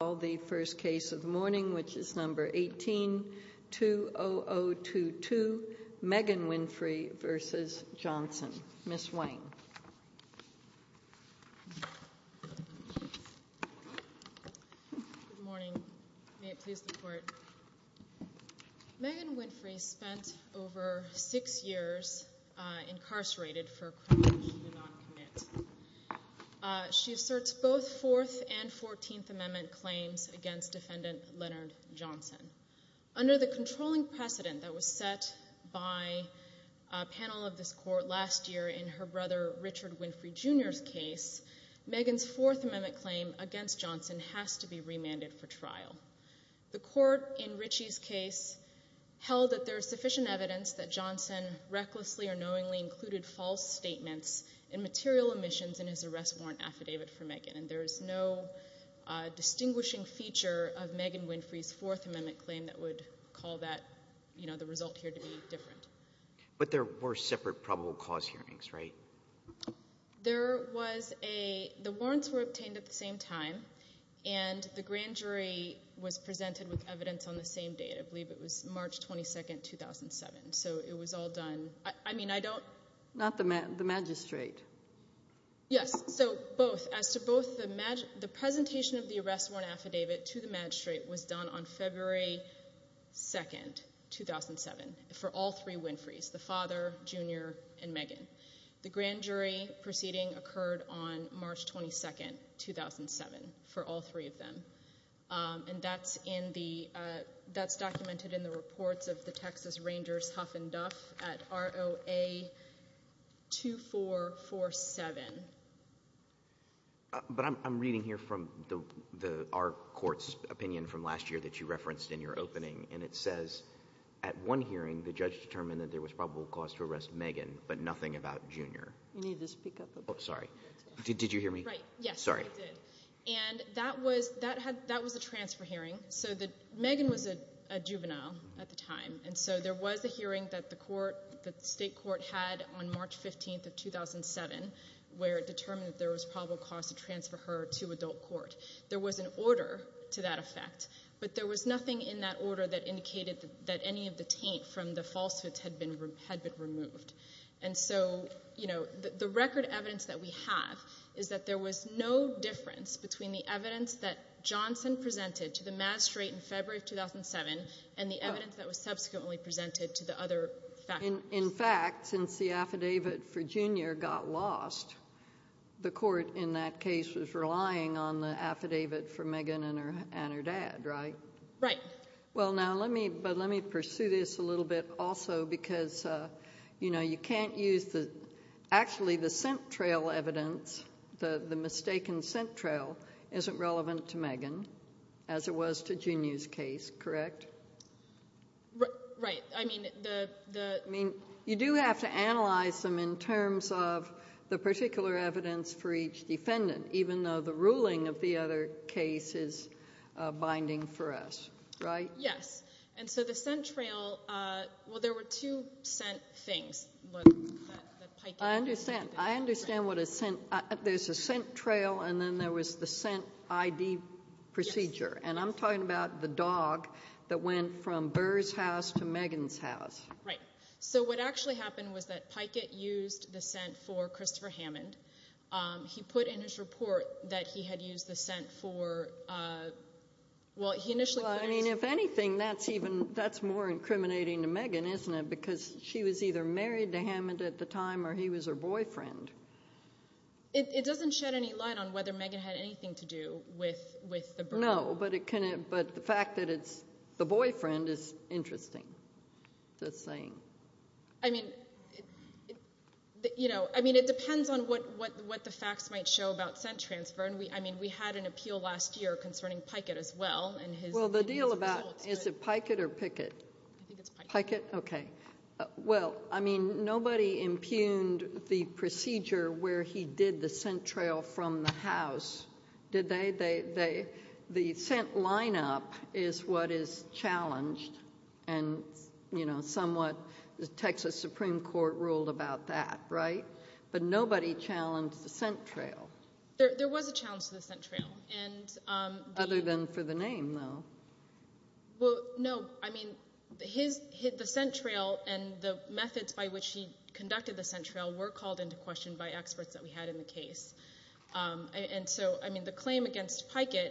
18-20022 Megan Winfrey v. Johnson Megan Winfrey spent over six years incarcerated for a crime she did not commit. She asserts both Fourth and Fourteenth Amendment claims against defendant Leonard Johnson. Under the controlling precedent that was set by a panel of this court last year in her brother Richard Winfrey Jr.'s case, Megan's Fourth Amendment claim against Johnson has to be remanded for trial. The court in Richie's case held that there is sufficient evidence that Johnson recklessly or knowingly included false statements and material omissions in his arrest warrant affidavit for Megan, and there is no distinguishing feature of Megan Winfrey's Fourth Amendment claim that would call the result here to be different. But there were separate probable cause hearings, right? There was a – the warrants were obtained at the same time, and the grand jury was presented with evidence on the same date. I believe it was March 22, 2007, so it was all done – I mean, I don't – Not the magistrate. Yes, so both. As to both, the presentation of the arrest warrant affidavit to the magistrate was done on February 2, 2007, for all three Winfrey's, the father, junior, and Megan. The grand jury proceeding occurred on March 22, 2007, for all three of them. And that's in the – that's documented in the reports of the Texas Rangers Huff and Duff at ROA 2447. But I'm reading here from the – our court's opinion from last year that you referenced in your opening, and it says at one hearing the judge determined that there was probable cause to arrest Megan, but nothing about junior. You need to speak up a bit. Oh, sorry. Did you hear me? Right, yes. Sorry. I did. And that was – that was a transfer hearing. So Megan was a juvenile at the time, and so there was a hearing that the court – that the state court had on March 15 of 2007 where it determined that there was probable cause to transfer her to adult court. There was an order to that effect, but there was nothing in that order that indicated that any of the taint from the falsehoods had been removed. And so, you know, the record evidence that we have is that there was no difference between the evidence that Johnson presented to the Maastricht in February of 2007 and the evidence that was subsequently presented to the other – In fact, since the affidavit for junior got lost, the court in that case was relying on the affidavit for Megan and her dad, right? Right. Well, now let me – but let me pursue this a little bit also because, you know, you can't use the – actually the scent trail evidence, the mistaken scent trail, isn't relevant to Megan as it was to junior's case, correct? Right. I mean, the – I mean, you do have to analyze them in terms of the particular evidence for each defendant, even though the ruling of the other case is binding for us, right? Yes. And so the scent trail – well, there were two scent things. I understand. I understand what a scent – there's a scent trail and then there was the scent ID procedure. And I'm talking about the dog that went from Burr's house to Megan's house. Right. So what actually happened was that Pikett used the scent for Christopher Hammond. He put in his report that he had used the scent for – well, he initially – Well, I mean, if anything, that's even – that's more incriminating to Megan, isn't it? Because she was either married to Hammond at the time or he was her boyfriend. It doesn't shed any light on whether Megan had anything to do with the Burr. I don't know, but the fact that it's the boyfriend is interesting, this thing. I mean, it depends on what the facts might show about scent transfer. I mean, we had an appeal last year concerning Pikett as well and his results. Well, the deal about – is it Pikett or Pickett? I think it's Pikett. Pikett? Okay. Well, I mean, nobody impugned the procedure where he did the scent trail from the house, did they? The scent lineup is what is challenged and somewhat the Texas Supreme Court ruled about that, right? But nobody challenged the scent trail. There was a challenge to the scent trail. Other than for the name, though. Well, no. I mean, the scent trail and the methods by which he conducted the scent trail were called into question by experts that we had in the case. And so, I mean, the claim against Pikett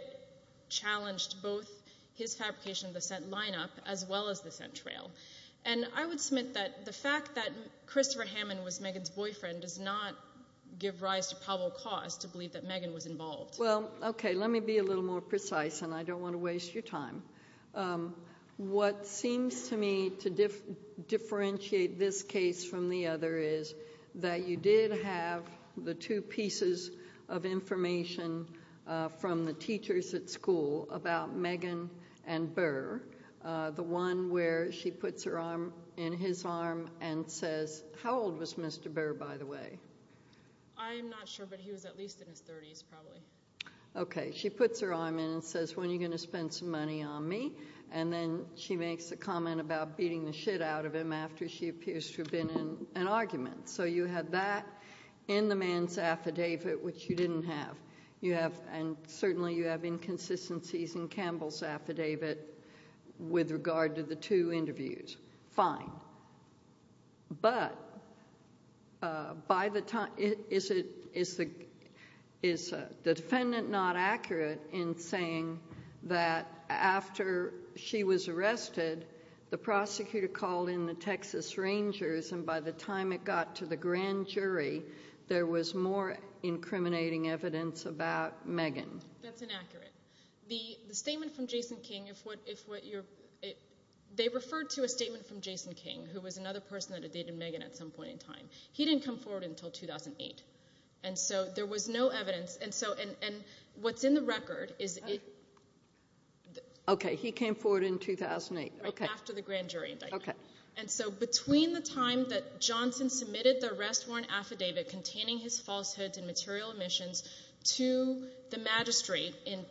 challenged both his fabrication of the scent lineup as well as the scent trail. And I would submit that the fact that Christopher Hammond was Megan's boyfriend does not give rise to probable cause to believe that Megan was involved. Well, okay, let me be a little more precise, and I don't want to waste your time. What seems to me to differentiate this case from the other is that you did have the two pieces of information from the teachers at school about Megan and Burr. The one where she puts her arm in his arm and says, how old was Mr. Burr, by the way? I'm not sure, but he was at least in his 30s, probably. Okay, she puts her arm in and says, when are you going to spend some money on me? And then she makes a comment about beating the shit out of him after she appears to have been in an argument. So you had that in the man's affidavit, which you didn't have. And certainly you have inconsistencies in Campbell's affidavit with regard to the two interviews. Fine. But is the defendant not accurate in saying that after she was arrested, the prosecutor called in the Texas Rangers, and by the time it got to the grand jury, there was more incriminating evidence about Megan? That's inaccurate. The statement from Jason King, they referred to a statement from Jason King, who was another person that had dated Megan at some point in time. He didn't come forward until 2008. And so there was no evidence. And what's in the record is it— Okay, he came forward in 2008. After the grand jury indictment. And so between the time that Johnson submitted the arrest warrant affidavit containing his falsehoods and material omissions to the magistrate in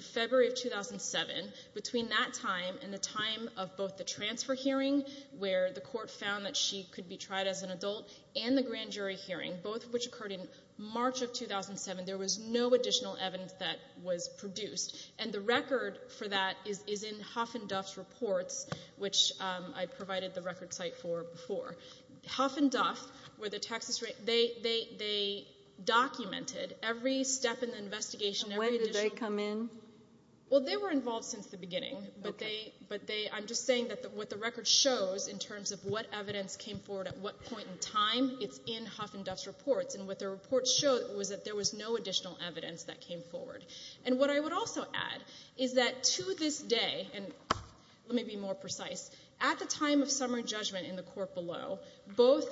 February of 2007, between that time and the time of both the transfer hearing, where the court found that she could be tried as an adult, and the grand jury hearing, both of which occurred in March of 2007, there was no additional evidence that was produced. And the record for that is in Huff and Duff's reports, which I provided the record site for before. Huff and Duff were the Texas—they documented every step in the investigation. When did they come in? Well, they were involved since the beginning. Okay. But they—I'm just saying that what the record shows in terms of what evidence came forward at what point in time, it's in Huff and Duff's reports. And what their reports showed was that there was no additional evidence that came forward. And what I would also add is that to this day, and let me be more precise, at the time of summary judgment in the court below, both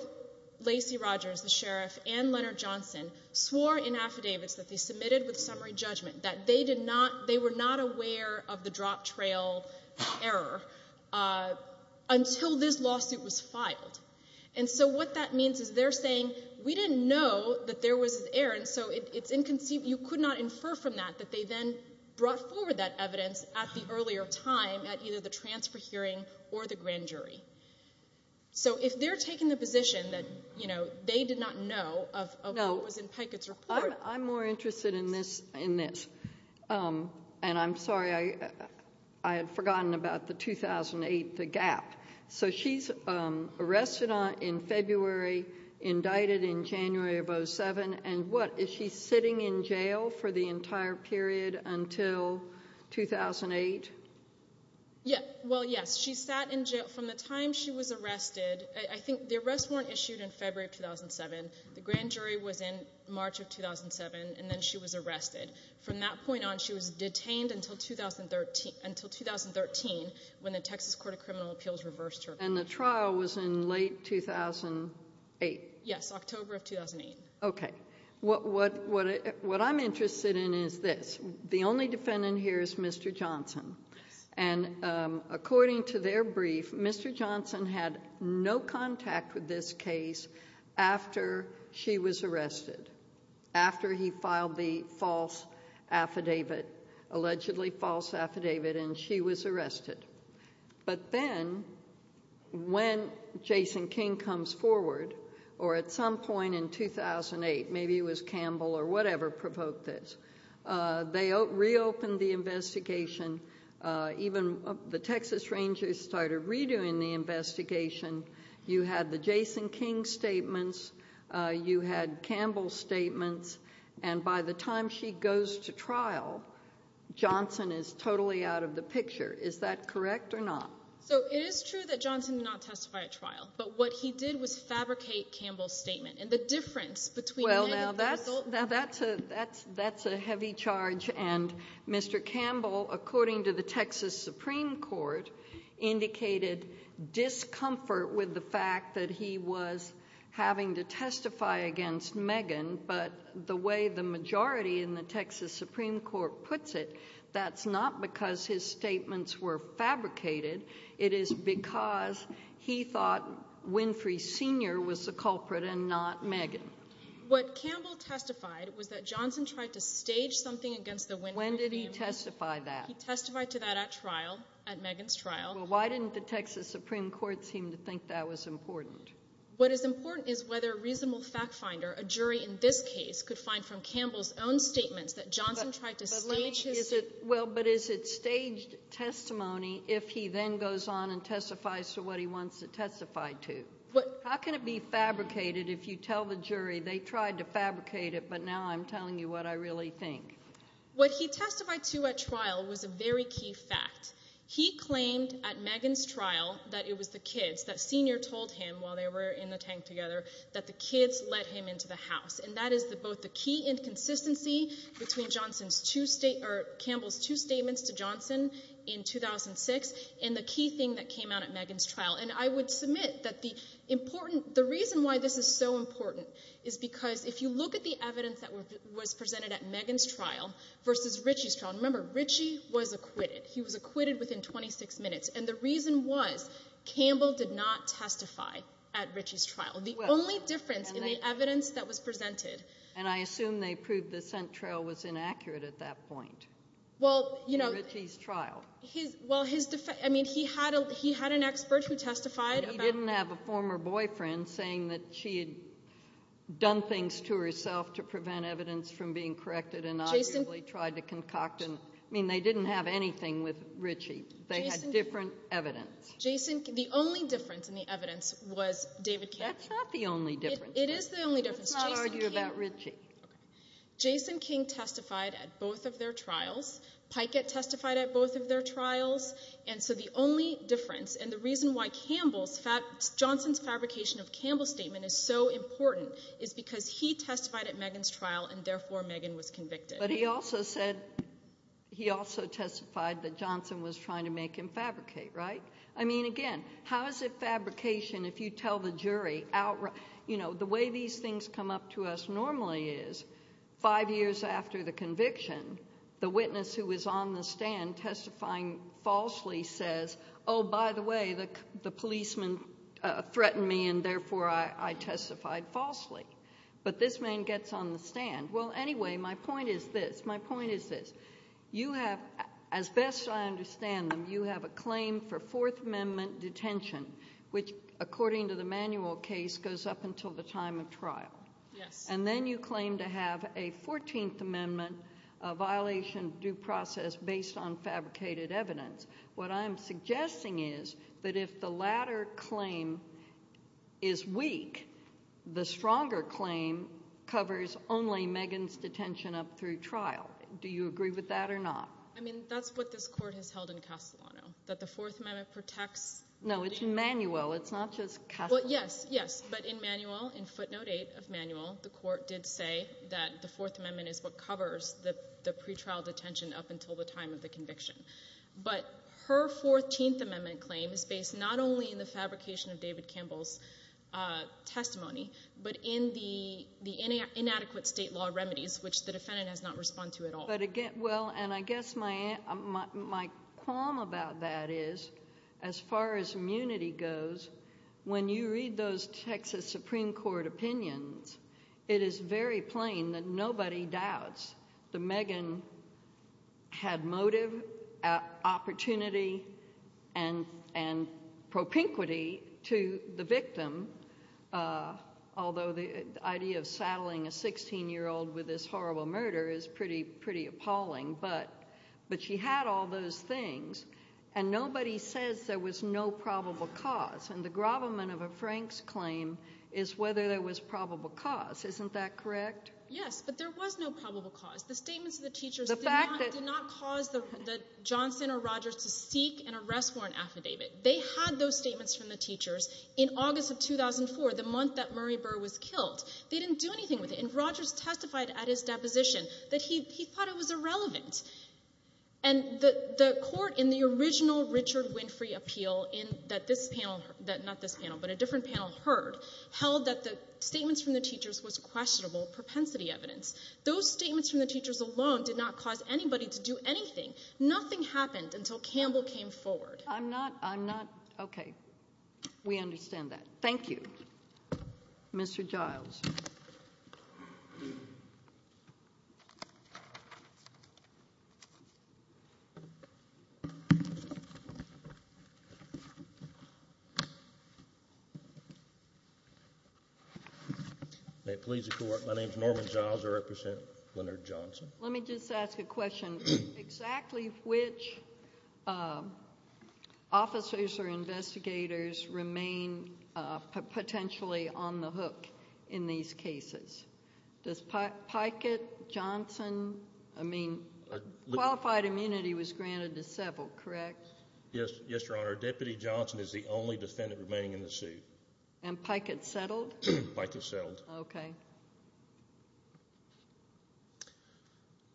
Lacey Rogers, the sheriff, and Leonard Johnson swore in affidavits that they submitted with summary judgment that they did not—they were not aware of the drop trail error until this lawsuit was filed. And so what that means is they're saying, we didn't know that there was an error, and so it's inconceivable—you could not infer from that that they then brought forward that evidence at the earlier time at either the transfer hearing or the grand jury. So if they're taking the position that, you know, they did not know of what was in Pikett's report— No, I'm more interested in this. And I'm sorry, I had forgotten about the 2008, the gap. So she's arrested in February, indicted in January of 2007, and what? Is she sitting in jail for the entire period until 2008? Well, yes. She sat in jail from the time she was arrested. I think the arrests weren't issued in February of 2007. The grand jury was in March of 2007, and then she was arrested. From that point on, she was detained until 2013 when the Texas Court of Criminal Appeals reversed her case. And the trial was in late 2008? Yes, October of 2008. Okay. What I'm interested in is this. The only defendant here is Mr. Johnson. And according to their brief, Mr. Johnson had no contact with this case after she was arrested, after he filed the false affidavit, allegedly false affidavit, and she was arrested. But then when Jason King comes forward, or at some point in 2008, maybe it was Campbell or whatever provoked this, they reopened the investigation. Even the Texas Rangers started redoing the investigation. You had the Jason King statements. You had Campbell's statements. And by the time she goes to trial, Johnson is totally out of the picture. Is that correct or not? So it is true that Johnson did not testify at trial. But what he did was fabricate Campbell's statement. And the difference between many of the results— Well, now that's a heavy charge, and Mr. Campbell, according to the Texas Supreme Court, indicated discomfort with the fact that he was having to testify against Megan. But the way the majority in the Texas Supreme Court puts it, that's not because his statements were fabricated. It is because he thought Winfrey Sr. was the culprit and not Megan. What Campbell testified was that Johnson tried to stage something against the Winfrey family. When did he testify that? He testified to that at trial, at Megan's trial. Well, why didn't the Texas Supreme Court seem to think that was important? What is important is whether a reasonable fact finder, a jury in this case, could find from Campbell's own statements that Johnson tried to stage his— Well, but is it staged testimony if he then goes on and testifies to what he wants to testify to? How can it be fabricated if you tell the jury they tried to fabricate it, but now I'm telling you what I really think? What he testified to at trial was a very key fact. He claimed at Megan's trial that it was the kids, that Sr. told him while they were in the tank together, that the kids let him into the house, and that is both the key inconsistency between Campbell's two statements to Johnson in 2006 and the key thing that came out at Megan's trial. And I would submit that the reason why this is so important is because if you look at the evidence that was presented at Megan's trial versus Richie's trial— Remember, Richie was acquitted. He was acquitted within 26 minutes. And the reason was Campbell did not testify at Richie's trial. The only difference in the evidence that was presented— And I assume they proved the scent trail was inaccurate at that point in Richie's trial. Well, his—I mean, he had an expert who testified about— He didn't have a former boyfriend saying that she had done things to herself to prevent evidence from being corrected and obviously tried to concoct— I mean, they didn't have anything with Richie. They had different evidence. Jason—the only difference in the evidence was David King. That's not the only difference. It is the only difference. Let's not argue about Richie. Jason King testified at both of their trials. Pikett testified at both of their trials. And so the only difference, and the reason why Campbell's— is because he testified at Megan's trial, and therefore Megan was convicted. But he also said—he also testified that Johnson was trying to make him fabricate, right? I mean, again, how is it fabrication if you tell the jury outright— You know, the way these things come up to us normally is five years after the conviction, the witness who was on the stand testifying falsely says, Oh, by the way, the policeman threatened me, and therefore I testified falsely. But this man gets on the stand. Well, anyway, my point is this. My point is this. You have, as best I understand them, you have a claim for Fourth Amendment detention, which, according to the manual case, goes up until the time of trial. Yes. And then you claim to have a Fourteenth Amendment violation due process based on fabricated evidence. What I'm suggesting is that if the latter claim is weak, the stronger claim covers only Megan's detention up through trial. Do you agree with that or not? I mean, that's what this Court has held in Castellano, that the Fourth Amendment protects— No, it's in manual. It's not just Castellano. Well, yes, yes. But in manual, in footnote eight of manual, the Court did say that the Fourth Amendment is what covers the pretrial detention up until the time of the conviction. But her Fourteenth Amendment claim is based not only in the fabrication of David Campbell's testimony, but in the inadequate state law remedies, which the defendant does not respond to at all. Well, and I guess my qualm about that is, as far as immunity goes, when you read those Texas Supreme Court opinions, it is very plain that nobody doubts that Megan had motive, opportunity, and propinquity to the victim, although the idea of saddling a 16-year-old with this horrible murder is pretty appalling. But she had all those things, and nobody says there was no probable cause. And the grovelment of a Frank's claim is whether there was probable cause. Isn't that correct? Yes, but there was no probable cause. The statements of the teachers did not cause Johnson or Rogers to seek an arrest warrant affidavit. They had those statements from the teachers in August of 2004, the month that Murray Burr was killed. They didn't do anything with it. And Rogers testified at his deposition that he thought it was irrelevant. And the Court in the original Richard Winfrey appeal that this panel, not this panel, but a different panel heard held that the statements from the teachers was questionable propensity evidence. Those statements from the teachers alone did not cause anybody to do anything. Nothing happened until Campbell came forward. I'm not, I'm not, okay. We understand that. Thank you. Mr. Giles. May it please the Court. My name is Norman Giles. I represent Leonard Johnson. Let me just ask a question. Exactly which officers or investigators remain potentially on the hook in these cases? Does Pikett Johnson, I mean, qualified immunity was granted to several, correct? Yes, yes, Your Honor. Our Deputy Johnson is the only defendant remaining in the suit. And Pikett's settled? Pikett's settled. Okay.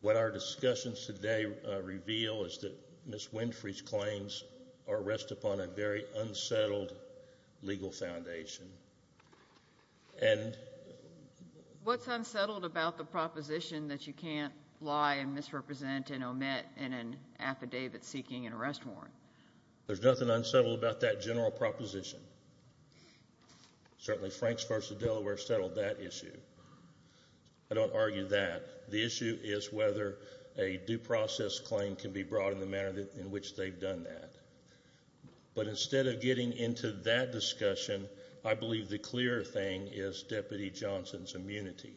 What our discussions today reveal is that Ms. Winfrey's claims are rest upon a very unsettled legal foundation. And? What's unsettled about the proposition that you can't lie and misrepresent and omit in an affidavit seeking and arrest warrant? There's nothing unsettled about that general proposition. Certainly Franks v. Delaware settled that issue. I don't argue that. The issue is whether a due process claim can be brought in the manner in which they've done that. But instead of getting into that discussion, I believe the clearer thing is Deputy Johnson's immunity.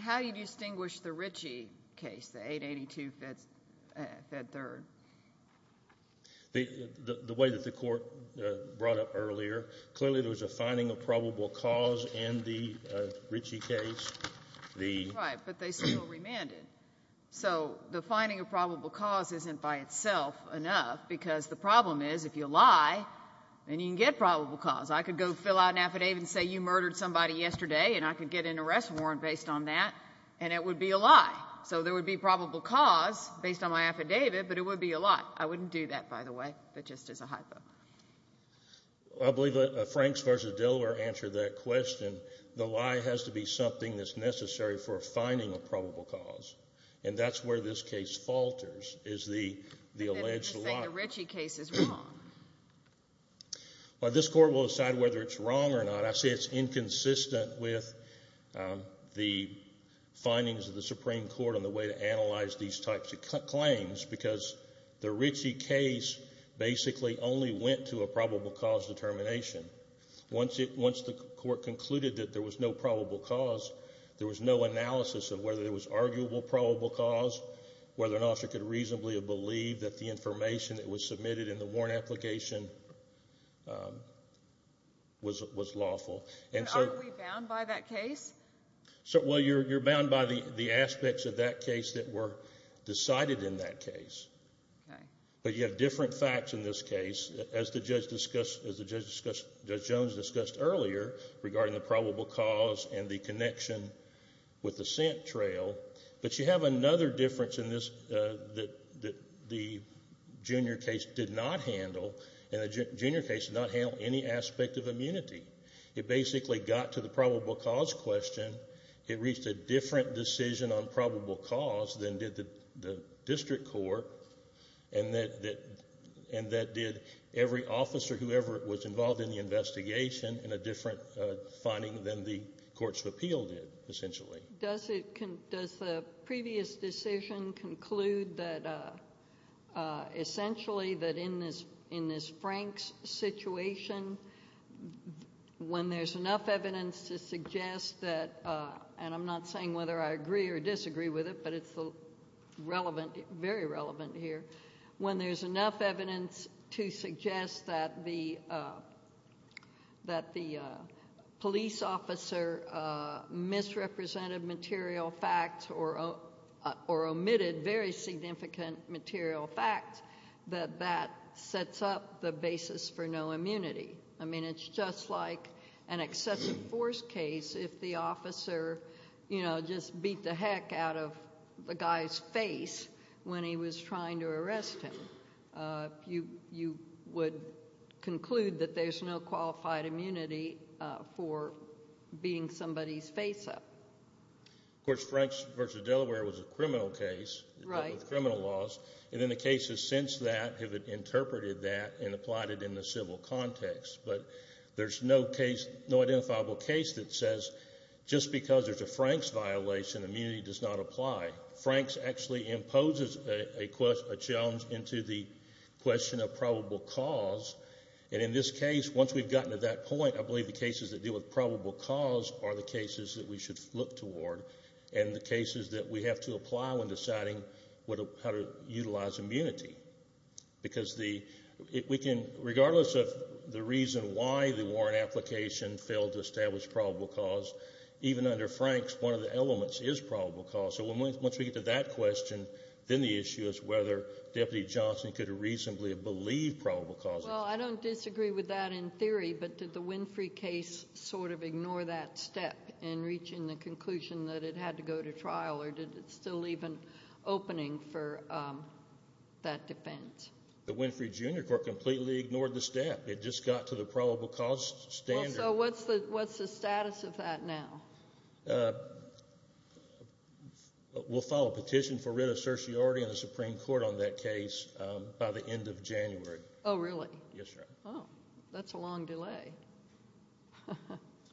How do you distinguish the Ritchie case, the 882-Fed 3rd? The way that the court brought up earlier, clearly there was a finding of probable cause in the Ritchie case. Right, but they still remanded. So the finding of probable cause isn't by itself enough because the problem is if you lie, then you can get probable cause. I could go fill out an affidavit and say you murdered somebody yesterday, and I could get an arrest warrant based on that, and it would be a lie. So there would be probable cause based on my affidavit, but it would be a lie. I wouldn't do that, by the way. That just is a hypo. I believe that Franks v. Delaware answered that question. The lie has to be something that's necessary for finding a probable cause. And that's where this case falters is the alleged lie. They just think the Ritchie case is wrong. Well, this court will decide whether it's wrong or not. I say it's inconsistent with the findings of the Supreme Court on the way to analyze these types of claims because the Ritchie case basically only went to a probable cause determination. Once the court concluded that there was no probable cause, there was no analysis of whether there was arguable probable cause, whether an officer could reasonably believe that the information that was submitted in the warrant application was lawful. But aren't we bound by that case? Well, you're bound by the aspects of that case that were decided in that case. But you have different facts in this case. As Judge Jones discussed earlier regarding the probable cause and the connection with the scent trail, but you have another difference in this that the junior case did not handle, and the junior case did not handle any aspect of immunity. It basically got to the probable cause question. It reached a different decision on probable cause than did the district court, and that did every officer, whoever was involved in the investigation, in a different finding than the courts of appeal did, essentially. Does the previous decision conclude that essentially that in this Franks situation, when there's enough evidence to suggest that, and I'm not saying whether I agree or disagree with it, but it's relevant, very relevant here, when there's enough evidence to suggest that the police officer misrepresented material facts or omitted very significant material facts, that that sets up the basis for no immunity. I mean, it's just like an excessive force case if the officer, you know, just beat the heck out of the guy's face when he was trying to arrest him. You would conclude that there's no qualified immunity for beating somebody's face up. Of course, Franks v. Delaware was a criminal case with criminal laws, and then the cases since that have interpreted that and applied it in the civil context, but there's no case, no identifiable case that says just because there's a Franks violation, immunity does not apply. Franks actually imposes a challenge into the question of probable cause, and in this case, once we've gotten to that point, I believe the cases that deal with probable cause are the cases that we should look toward and the cases that we have to apply when deciding how to utilize immunity because we can, regardless of the reason why the warrant application failed to establish probable cause, even under Franks, one of the elements is probable cause. So once we get to that question, then the issue is whether Deputy Johnson could reasonably have believed probable cause. Well, I don't disagree with that in theory, but did the Winfrey case sort of ignore that step in reaching the conclusion that it had to go to trial or did it still leave an opening for that defense? The Winfrey Junior Court completely ignored the step. It just got to the probable cause standard. So what's the status of that now? We'll file a petition for writ of certiorari in the Supreme Court on that case by the end of January. Oh, really? Yes, Your Honor. Oh, that's a long delay.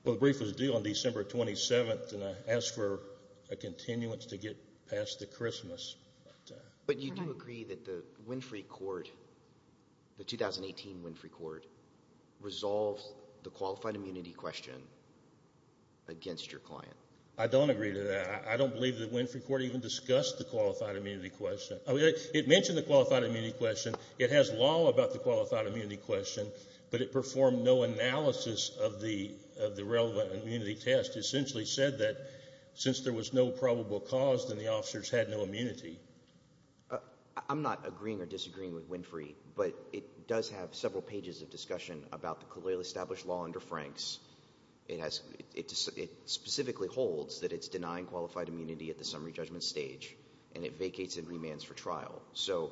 Well, the brief was due on December 27th, and I asked for a continuance to get past the Christmas. But you do agree that the Winfrey court, the 2018 Winfrey court, resolved the qualified immunity question against your client? I don't agree to that. I don't believe the Winfrey court even discussed the qualified immunity question. It mentioned the qualified immunity question. It has law about the qualified immunity question, but it performed no analysis of the relevant immunity test. It essentially said that since there was no probable cause, then the officers had no immunity. I'm not agreeing or disagreeing with Winfrey, but it does have several pages of discussion about the colloquially established law under Franks. It specifically holds that it's denying qualified immunity at the summary judgment stage, and it vacates and remands for trial. So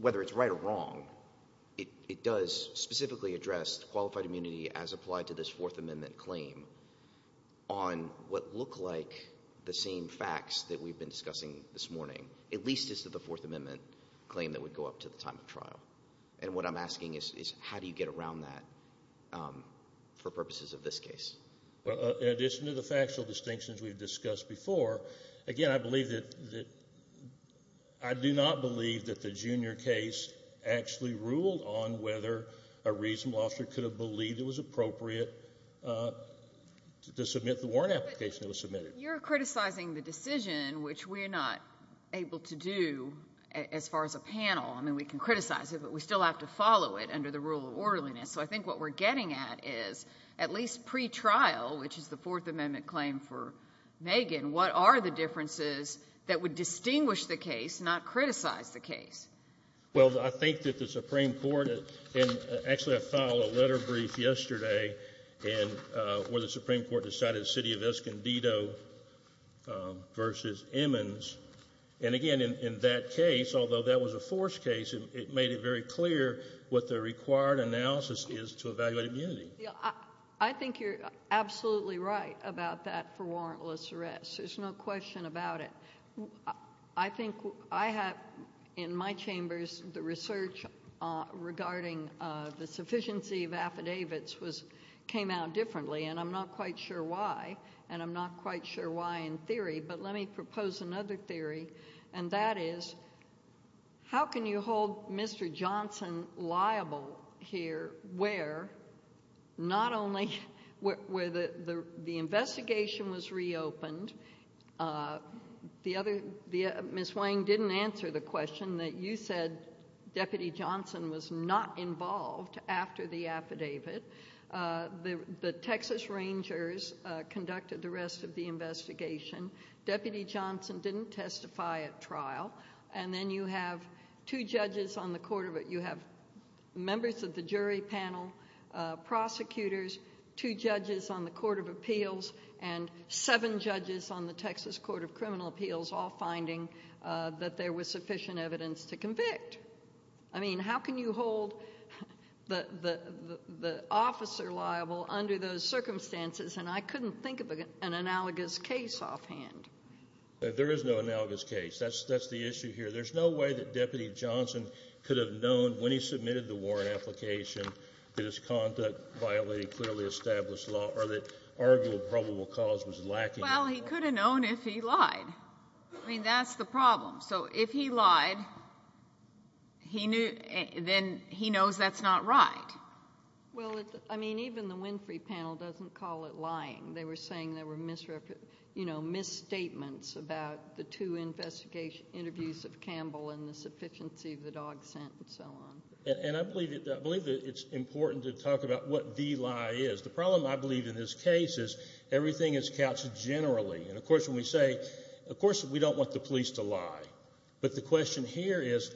whether it's right or wrong, it does specifically address qualified immunity as applied to this Fourth Amendment claim on what look like the same facts that we've been discussing this morning, at least as to the Fourth Amendment claim that would go up to the time of trial. And what I'm asking is how do you get around that for purposes of this case? In addition to the factual distinctions we've discussed before, again, I do not believe that the junior case actually ruled on whether a reasonable officer could have believed it was appropriate to submit the warrant application that was submitted. You're criticizing the decision, which we're not able to do as far as a panel. I mean we can criticize it, but we still have to follow it under the rule of orderliness. So I think what we're getting at is at least pretrial, which is the Fourth Amendment claim for Megan, what are the differences that would distinguish the case, not criticize the case? Well, I think that the Supreme Court, and actually I filed a letter brief yesterday where the Supreme Court decided the city of Escondido versus Emmons. And again, in that case, although that was a forced case, it made it very clear what the required analysis is to evaluate immunity. I think you're absolutely right about that for warrantless arrest. There's no question about it. I think I have in my chambers the research regarding the sufficiency of affidavits came out differently, and I'm not quite sure why, and I'm not quite sure why in theory. But let me propose another theory, and that is how can you hold Mr. Johnson liable here where not only where the investigation was reopened, Ms. Wang didn't answer the question that you said Deputy Johnson was not involved after the affidavit. The Texas Rangers conducted the rest of the investigation. Deputy Johnson didn't testify at trial. And then you have two judges on the court, you have members of the jury panel, prosecutors, two judges on the Court of Appeals, and seven judges on the Texas Court of Criminal Appeals I mean, how can you hold the officer liable under those circumstances? And I couldn't think of an analogous case offhand. There is no analogous case. That's the issue here. There's no way that Deputy Johnson could have known when he submitted the warrant application that his conduct violated clearly established law or that arguable probable cause was lacking. Well, he could have known if he lied. I mean, that's the problem. So if he lied, then he knows that's not right. Well, I mean, even the Winfrey panel doesn't call it lying. They were saying there were misstatements about the two interviews of Campbell and the sufficiency of the dog scent and so on. And I believe that it's important to talk about what the lie is. The problem, I believe, in this case is everything is couched generally. And, of course, when we say, of course, we don't want the police to lie. But the question here is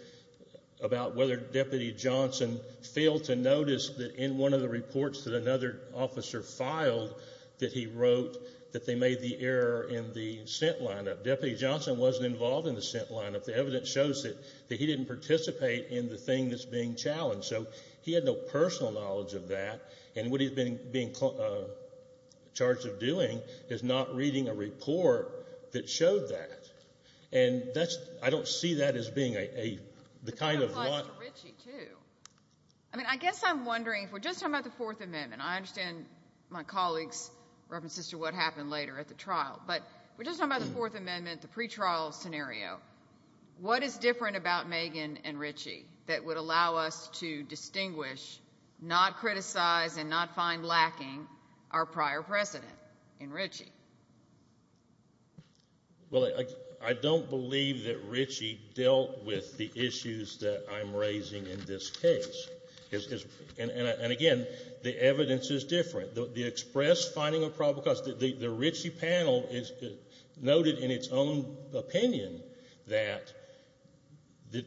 about whether Deputy Johnson failed to notice that in one of the reports that another officer filed that he wrote that they made the error in the scent lineup. Deputy Johnson wasn't involved in the scent lineup. The evidence shows that he didn't participate in the thing that's being challenged. So he had no personal knowledge of that. And what he's being charged of doing is not reading a report that showed that. And I don't see that as being the kind of lie. It applies to Ritchie, too. I mean, I guess I'm wondering, if we're just talking about the Fourth Amendment, I understand my colleagues' references to what happened later at the trial, but if we're just talking about the Fourth Amendment, the pretrial scenario, what is different about Megan and Ritchie that would allow us to distinguish, not criticize, and not find lacking our prior precedent in Ritchie? Well, I don't believe that Ritchie dealt with the issues that I'm raising in this case. And, again, the evidence is different. The express finding of probable cause, the Ritchie panel noted in its own opinion that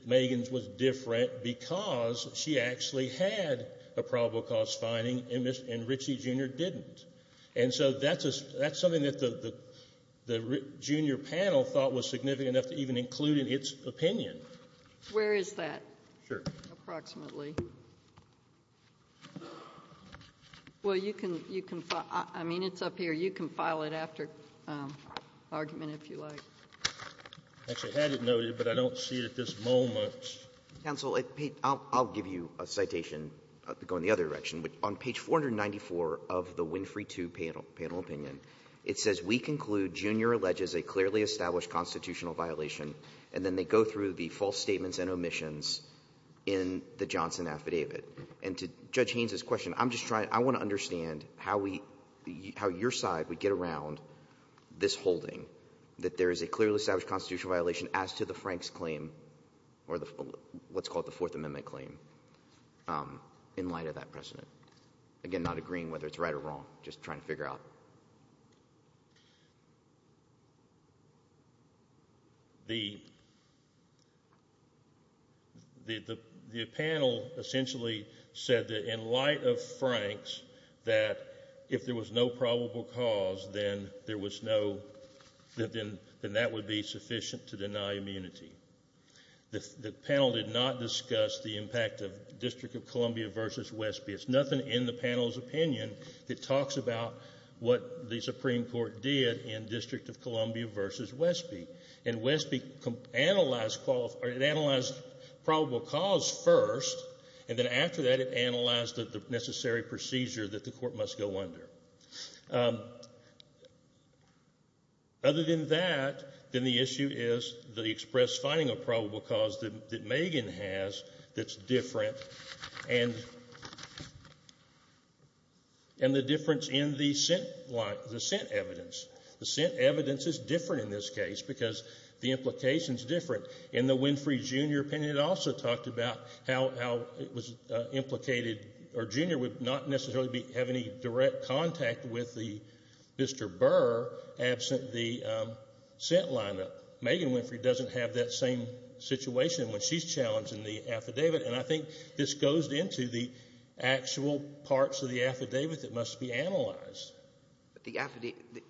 Megan's was different because she actually had a probable cause finding and Ritchie Jr. didn't. And so that's something that the junior panel thought was significant enough to even include in its opinion. Where is that approximately? Well, you can file — I mean, it's up here. You can file it after argument, if you like. I actually had it noted, but I don't see it at this moment. Counsel, I'll give you a citation to go in the other direction. On page 494 of the Winfrey II panel opinion, it says, We conclude Jr. alleges a clearly established constitutional violation. And then they go through the false statements and omissions in the Johnson affidavit. And to Judge Haynes' question, I'm just trying — I want to understand how we — how your side would get around this holding, that there is a clearly established constitutional violation as to the Franks' claim or what's called the Fourth Amendment claim in light of that precedent. Again, not agreeing whether it's right or wrong, just trying to figure out. The panel essentially said that in light of Franks, that if there was no probable cause, then there was no — then that would be sufficient to deny immunity. The panel did not discuss the impact of District of Columbia v. Westby. There's nothing in the panel's opinion that talks about what the Supreme Court did in District of Columbia v. Westby. And Westby analyzed probable cause first, and then after that it analyzed the necessary procedure that the court must go under. Other than that, then the issue is the express finding of probable cause that Megan has that's different, and the difference in the sent evidence. The sent evidence is different in this case because the implications are different. In the Winfrey, Jr. opinion, it also talked about how it was implicated — or Jr. would not necessarily have any direct contact with Mr. Burr absent the sent lineup. Megan Winfrey doesn't have that same situation when she's challenged in the affidavit, and I think this goes into the actual parts of the affidavit that must be analyzed.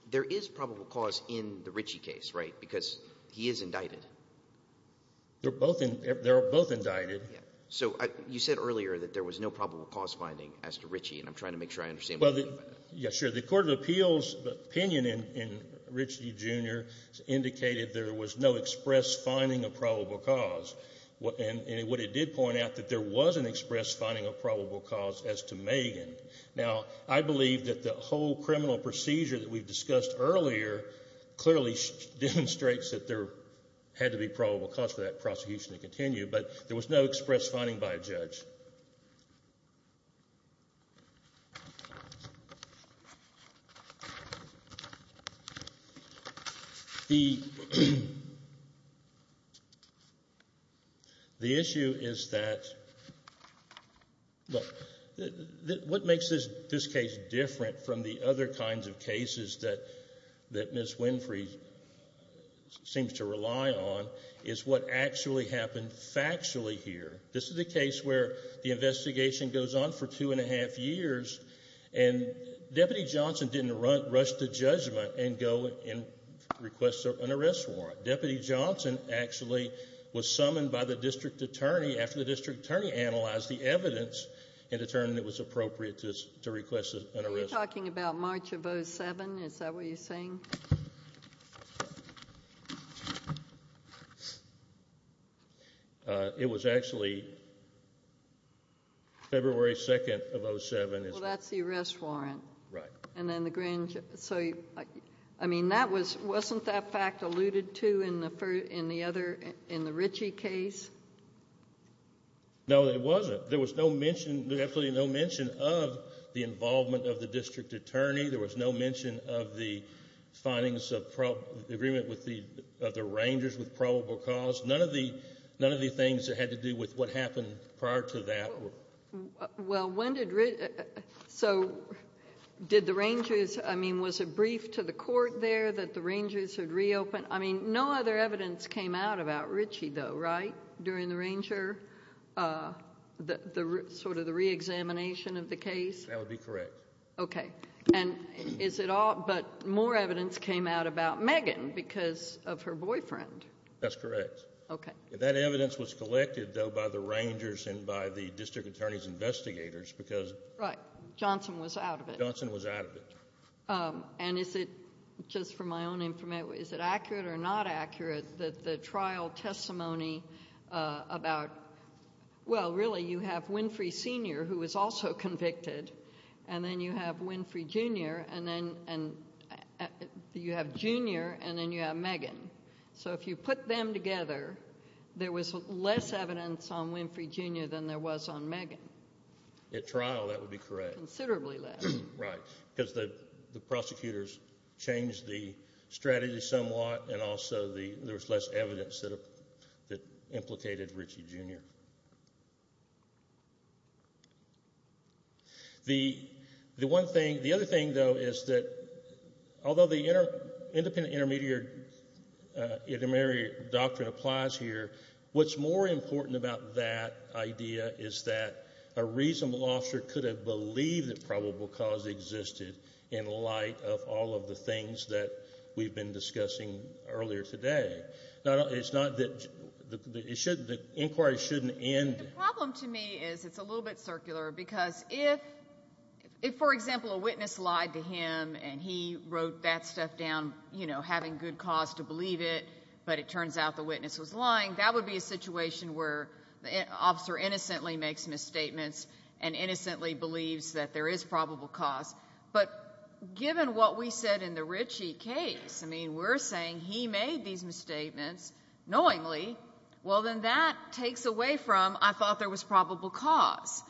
There is probable cause in the Ritchie case, right, because he is indicted. They're both indicted. So you said earlier that there was no probable cause finding as to Ritchie, and I'm trying to make sure I understand what you mean by that. Yeah, sure. The Court of Appeals' opinion in Ritchie, Jr. indicated there was no express finding of probable cause, and what it did point out that there was an express finding of probable cause as to Megan. Now, I believe that the whole criminal procedure that we discussed earlier clearly demonstrates that there had to be probable cause for that prosecution to continue, but there was no express finding by a judge. The issue is that — what makes this case different from the other kinds of cases that Ms. Winfrey seems to rely on is what actually happened factually here. This is a case where the investigation goes on for two and a half years, and Deputy Johnson didn't rush to judgment and go and request an arrest warrant. Deputy Johnson actually was summoned by the district attorney after the district attorney analyzed the evidence and determined it was appropriate to request an arrest warrant. Are you talking about March of 2007? Is that what you're saying? It was actually February 2nd of 2007. Well, that's the arrest warrant. I mean, wasn't that fact alluded to in the Ritchie case? No, it wasn't. There was absolutely no mention of the involvement of the district attorney. There was no mention of the findings of the agreement of the Rangers with probable cause. None of the things that had to do with what happened prior to that were— Well, when did Ritchie—so did the Rangers— I mean, was it briefed to the court there that the Rangers had reopened? I mean, no other evidence came out about Ritchie, though, right, during the Ranger— sort of the reexamination of the case? That would be correct. Okay. And is it all—but more evidence came out about Megan because of her boyfriend. That's correct. Okay. That evidence was collected, though, by the Rangers and by the district attorney's investigators because— Right. Johnson was out of it. Johnson was out of it. And is it—just for my own information, is it accurate or not accurate that the trial testimony about— well, really, you have Winfrey Sr., who was also convicted, and then you have Winfrey Jr., and then you have Megan. So if you put them together, there was less evidence on Winfrey Jr. than there was on Megan. At trial, that would be correct. Considerably less. Right, because the prosecutors changed the strategy somewhat, and also there was less evidence that implicated Ritchie Jr. The other thing, though, is that although the independent intermediary doctrine applies here, what's more important about that idea is that a reasonable officer could have believed that probable cause existed in light of all of the things that we've been discussing earlier today. Now, it's not that—the inquiry shouldn't end— The problem to me is it's a little bit circular because if, for example, a witness lied to him and he wrote that stuff down, you know, having good cause to believe it, but it turns out the witness was lying, that would be a situation where the officer innocently makes misstatements and innocently believes that there is probable cause. But given what we said in the Ritchie case, I mean, we're saying he made these misstatements knowingly. Well, then that takes away from I thought there was probable cause,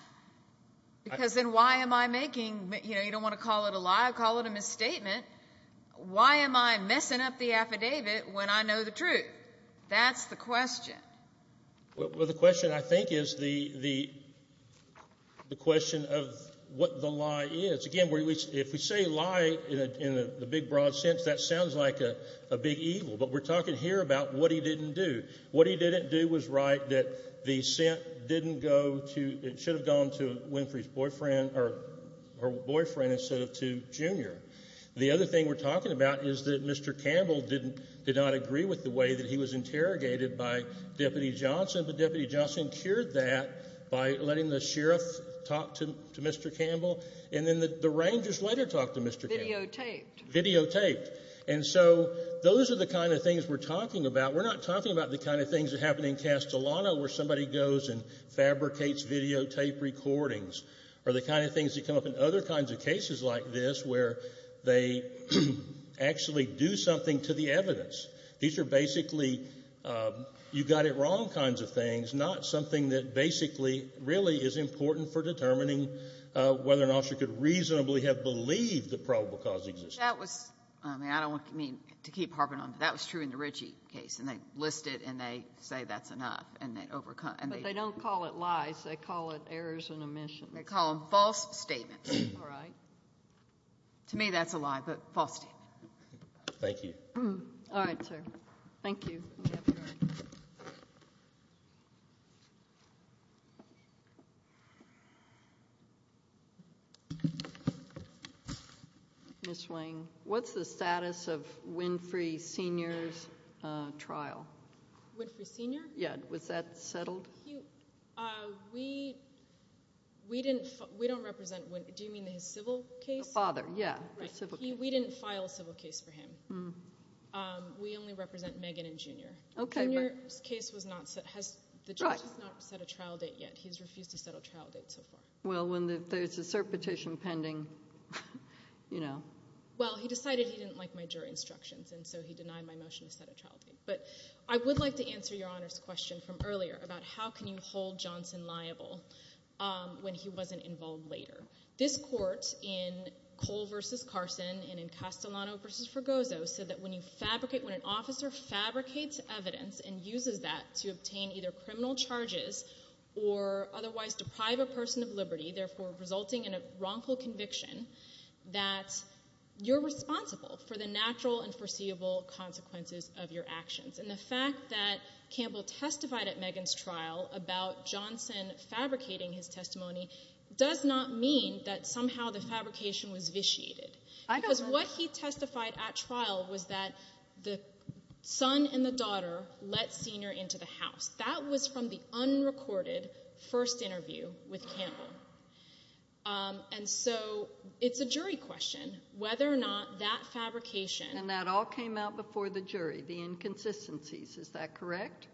because then why am I making—you know, you don't want to call it a lie, call it a misstatement. Why am I messing up the affidavit when I know the truth? That's the question. Well, the question, I think, is the question of what the lie is. Again, if we say lie in the big, broad sense, that sounds like a big evil, but we're talking here about what he didn't do. What he didn't do was write that the sent didn't go to— The other thing we're talking about is that Mr. Campbell did not agree with the way that he was interrogated by Deputy Johnson, but Deputy Johnson cured that by letting the sheriff talk to Mr. Campbell, and then the Rangers later talked to Mr. Campbell. Videotaped. Videotaped. And so those are the kind of things we're talking about. We're not talking about the kind of things that happen in Castellano where somebody goes and fabricates videotape recordings or the kind of things that come up in other kinds of cases like this where they actually do something to the evidence. These are basically you-got-it-wrong kinds of things, not something that basically really is important for determining whether an officer could reasonably have believed the probable cause existed. That was — I mean, I don't mean to keep harping on, but that was true in the Ritchie case, and they list it and they say that's enough, and they overcome — But they don't call it lies. They call it errors and omissions. They call them false statements. All right. To me that's a lie, but false statement. Thank you. All right, sir. Thank you. Ms. Wayne, what's the status of Winfrey Sr.'s trial? Winfrey Sr.? Yeah. Was that settled? We didn't — we don't represent — do you mean his civil case? The father, yeah. Right. We didn't file a civil case for him. We only represent Megan and Junior. Okay. Junior's case was not — the judge has not set a trial date yet. He's refused to set a trial date so far. Well, when there's a cert petition pending, you know. Well, he decided he didn't like my jury instructions, and so he denied my motion to set a trial date. But I would like to answer Your Honor's question from earlier about how can you hold Johnson liable when he wasn't involved later. This court in Cole v. Carson and in Castellano v. Fergozzo said that when you fabricate — when an officer fabricates evidence and uses that to obtain either criminal charges or otherwise deprive a person of liberty, therefore resulting in a wrongful conviction, that you're responsible for the natural and foreseeable consequences of your actions. And the fact that Campbell testified at Megan's trial about Johnson fabricating his testimony does not mean that somehow the fabrication was vitiated. Because what he testified at trial was that the son and the daughter let Senior into the house. That was from the unrecorded first interview with Campbell. And so it's a jury question whether or not that fabrication— And that all came out before the jury, the inconsistencies. Is that correct?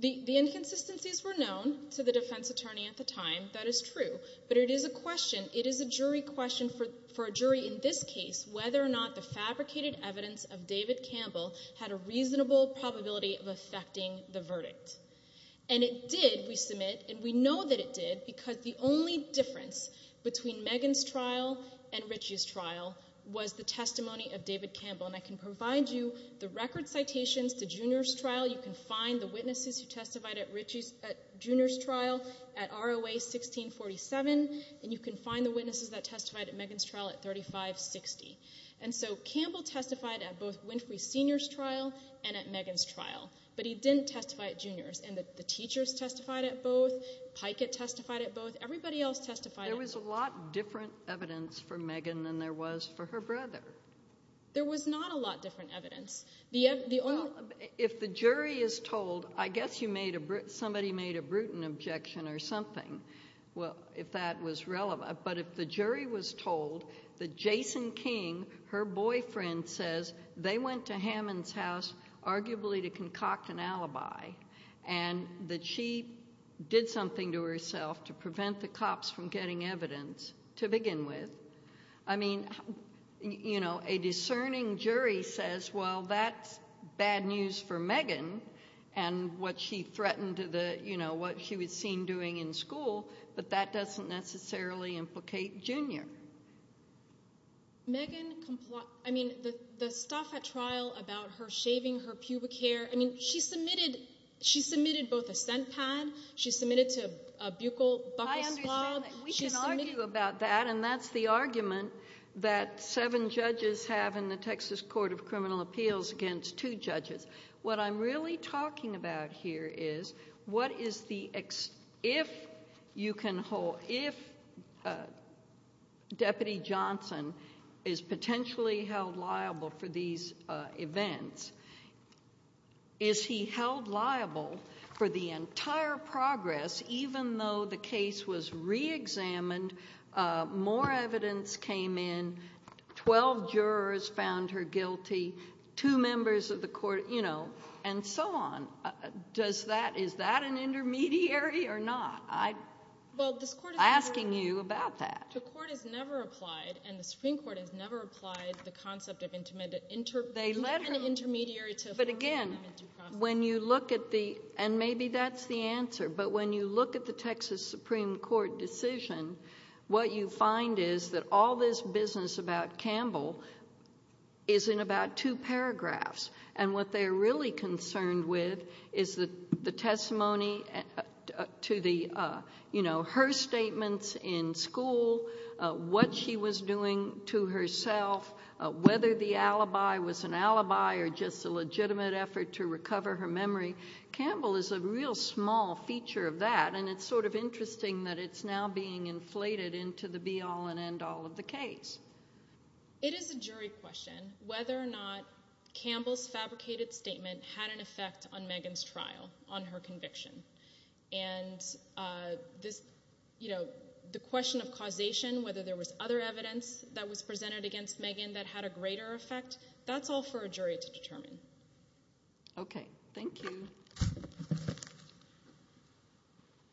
The inconsistencies were known to the defense attorney at the time. That is true. But it is a question, it is a jury question for a jury in this case whether or not the fabricated evidence of David Campbell had a reasonable probability of affecting the verdict. And it did, we submit, and we know that it did because the only difference between Megan's trial and Richie's trial was the testimony of David Campbell. And I can provide you the record citations to Junior's trial. You can find the witnesses who testified at Junior's trial at ROA 1647. And you can find the witnesses that testified at Megan's trial at 3560. And so Campbell testified at both Winfrey Senior's trial and at Megan's trial. But he didn't testify at Junior's. And the teachers testified at both. Pikett testified at both. Everybody else testified at both. There was a lot different evidence for Megan than there was for her brother. There was not a lot different evidence. If the jury is told, I guess somebody made a Bruton objection or something, if that was relevant. But if the jury was told that Jason King, her boyfriend, says they went to Hammond's house arguably to concoct an alibi and that she did something to herself to prevent the cops from getting evidence to begin with, I mean, you know, a discerning jury says, well, that's bad news for Megan and what she threatened to the, you know, what she was seen doing in school. But that doesn't necessarily implicate Junior. Megan complied, I mean, the stuff at trial about her shaving her pubic hair, I mean, she submitted both a scent pad, she submitted to a buccal swab. I understand that. We can argue about that. And that's the argument that seven judges have in the Texas Court of Criminal Appeals against two judges. What I'm really talking about here is what is the, if you can hold, if Deputy Johnson is potentially held liable for these events, is he held liable for the entire progress even though the case was reexamined, more evidence came in, 12 jurors found her guilty, two members of the court, you know, and so on. Does that, is that an intermediary or not? I'm asking you about that. The court has never applied, and the Supreme Court has never applied, the concept of intermediary to affirmative process. But again, when you look at the, and maybe that's the answer, but when you look at the Texas Supreme Court decision, what you find is that all this business about Campbell is in about two paragraphs. And what they're really concerned with is the testimony to the, you know, her statements in school, what she was doing to herself, whether the alibi was an alibi or just a legitimate effort to recover her memory. Campbell is a real small feature of that, and it's sort of interesting that it's now being inflated into the be all and end all of the case. It is a jury question whether or not Campbell's fabricated statement had an effect on Megan's trial, on her conviction. And this, you know, the question of causation, whether there was other evidence that was presented against Megan that had a greater effect, that's all for a jury to determine. Okay. Thank you.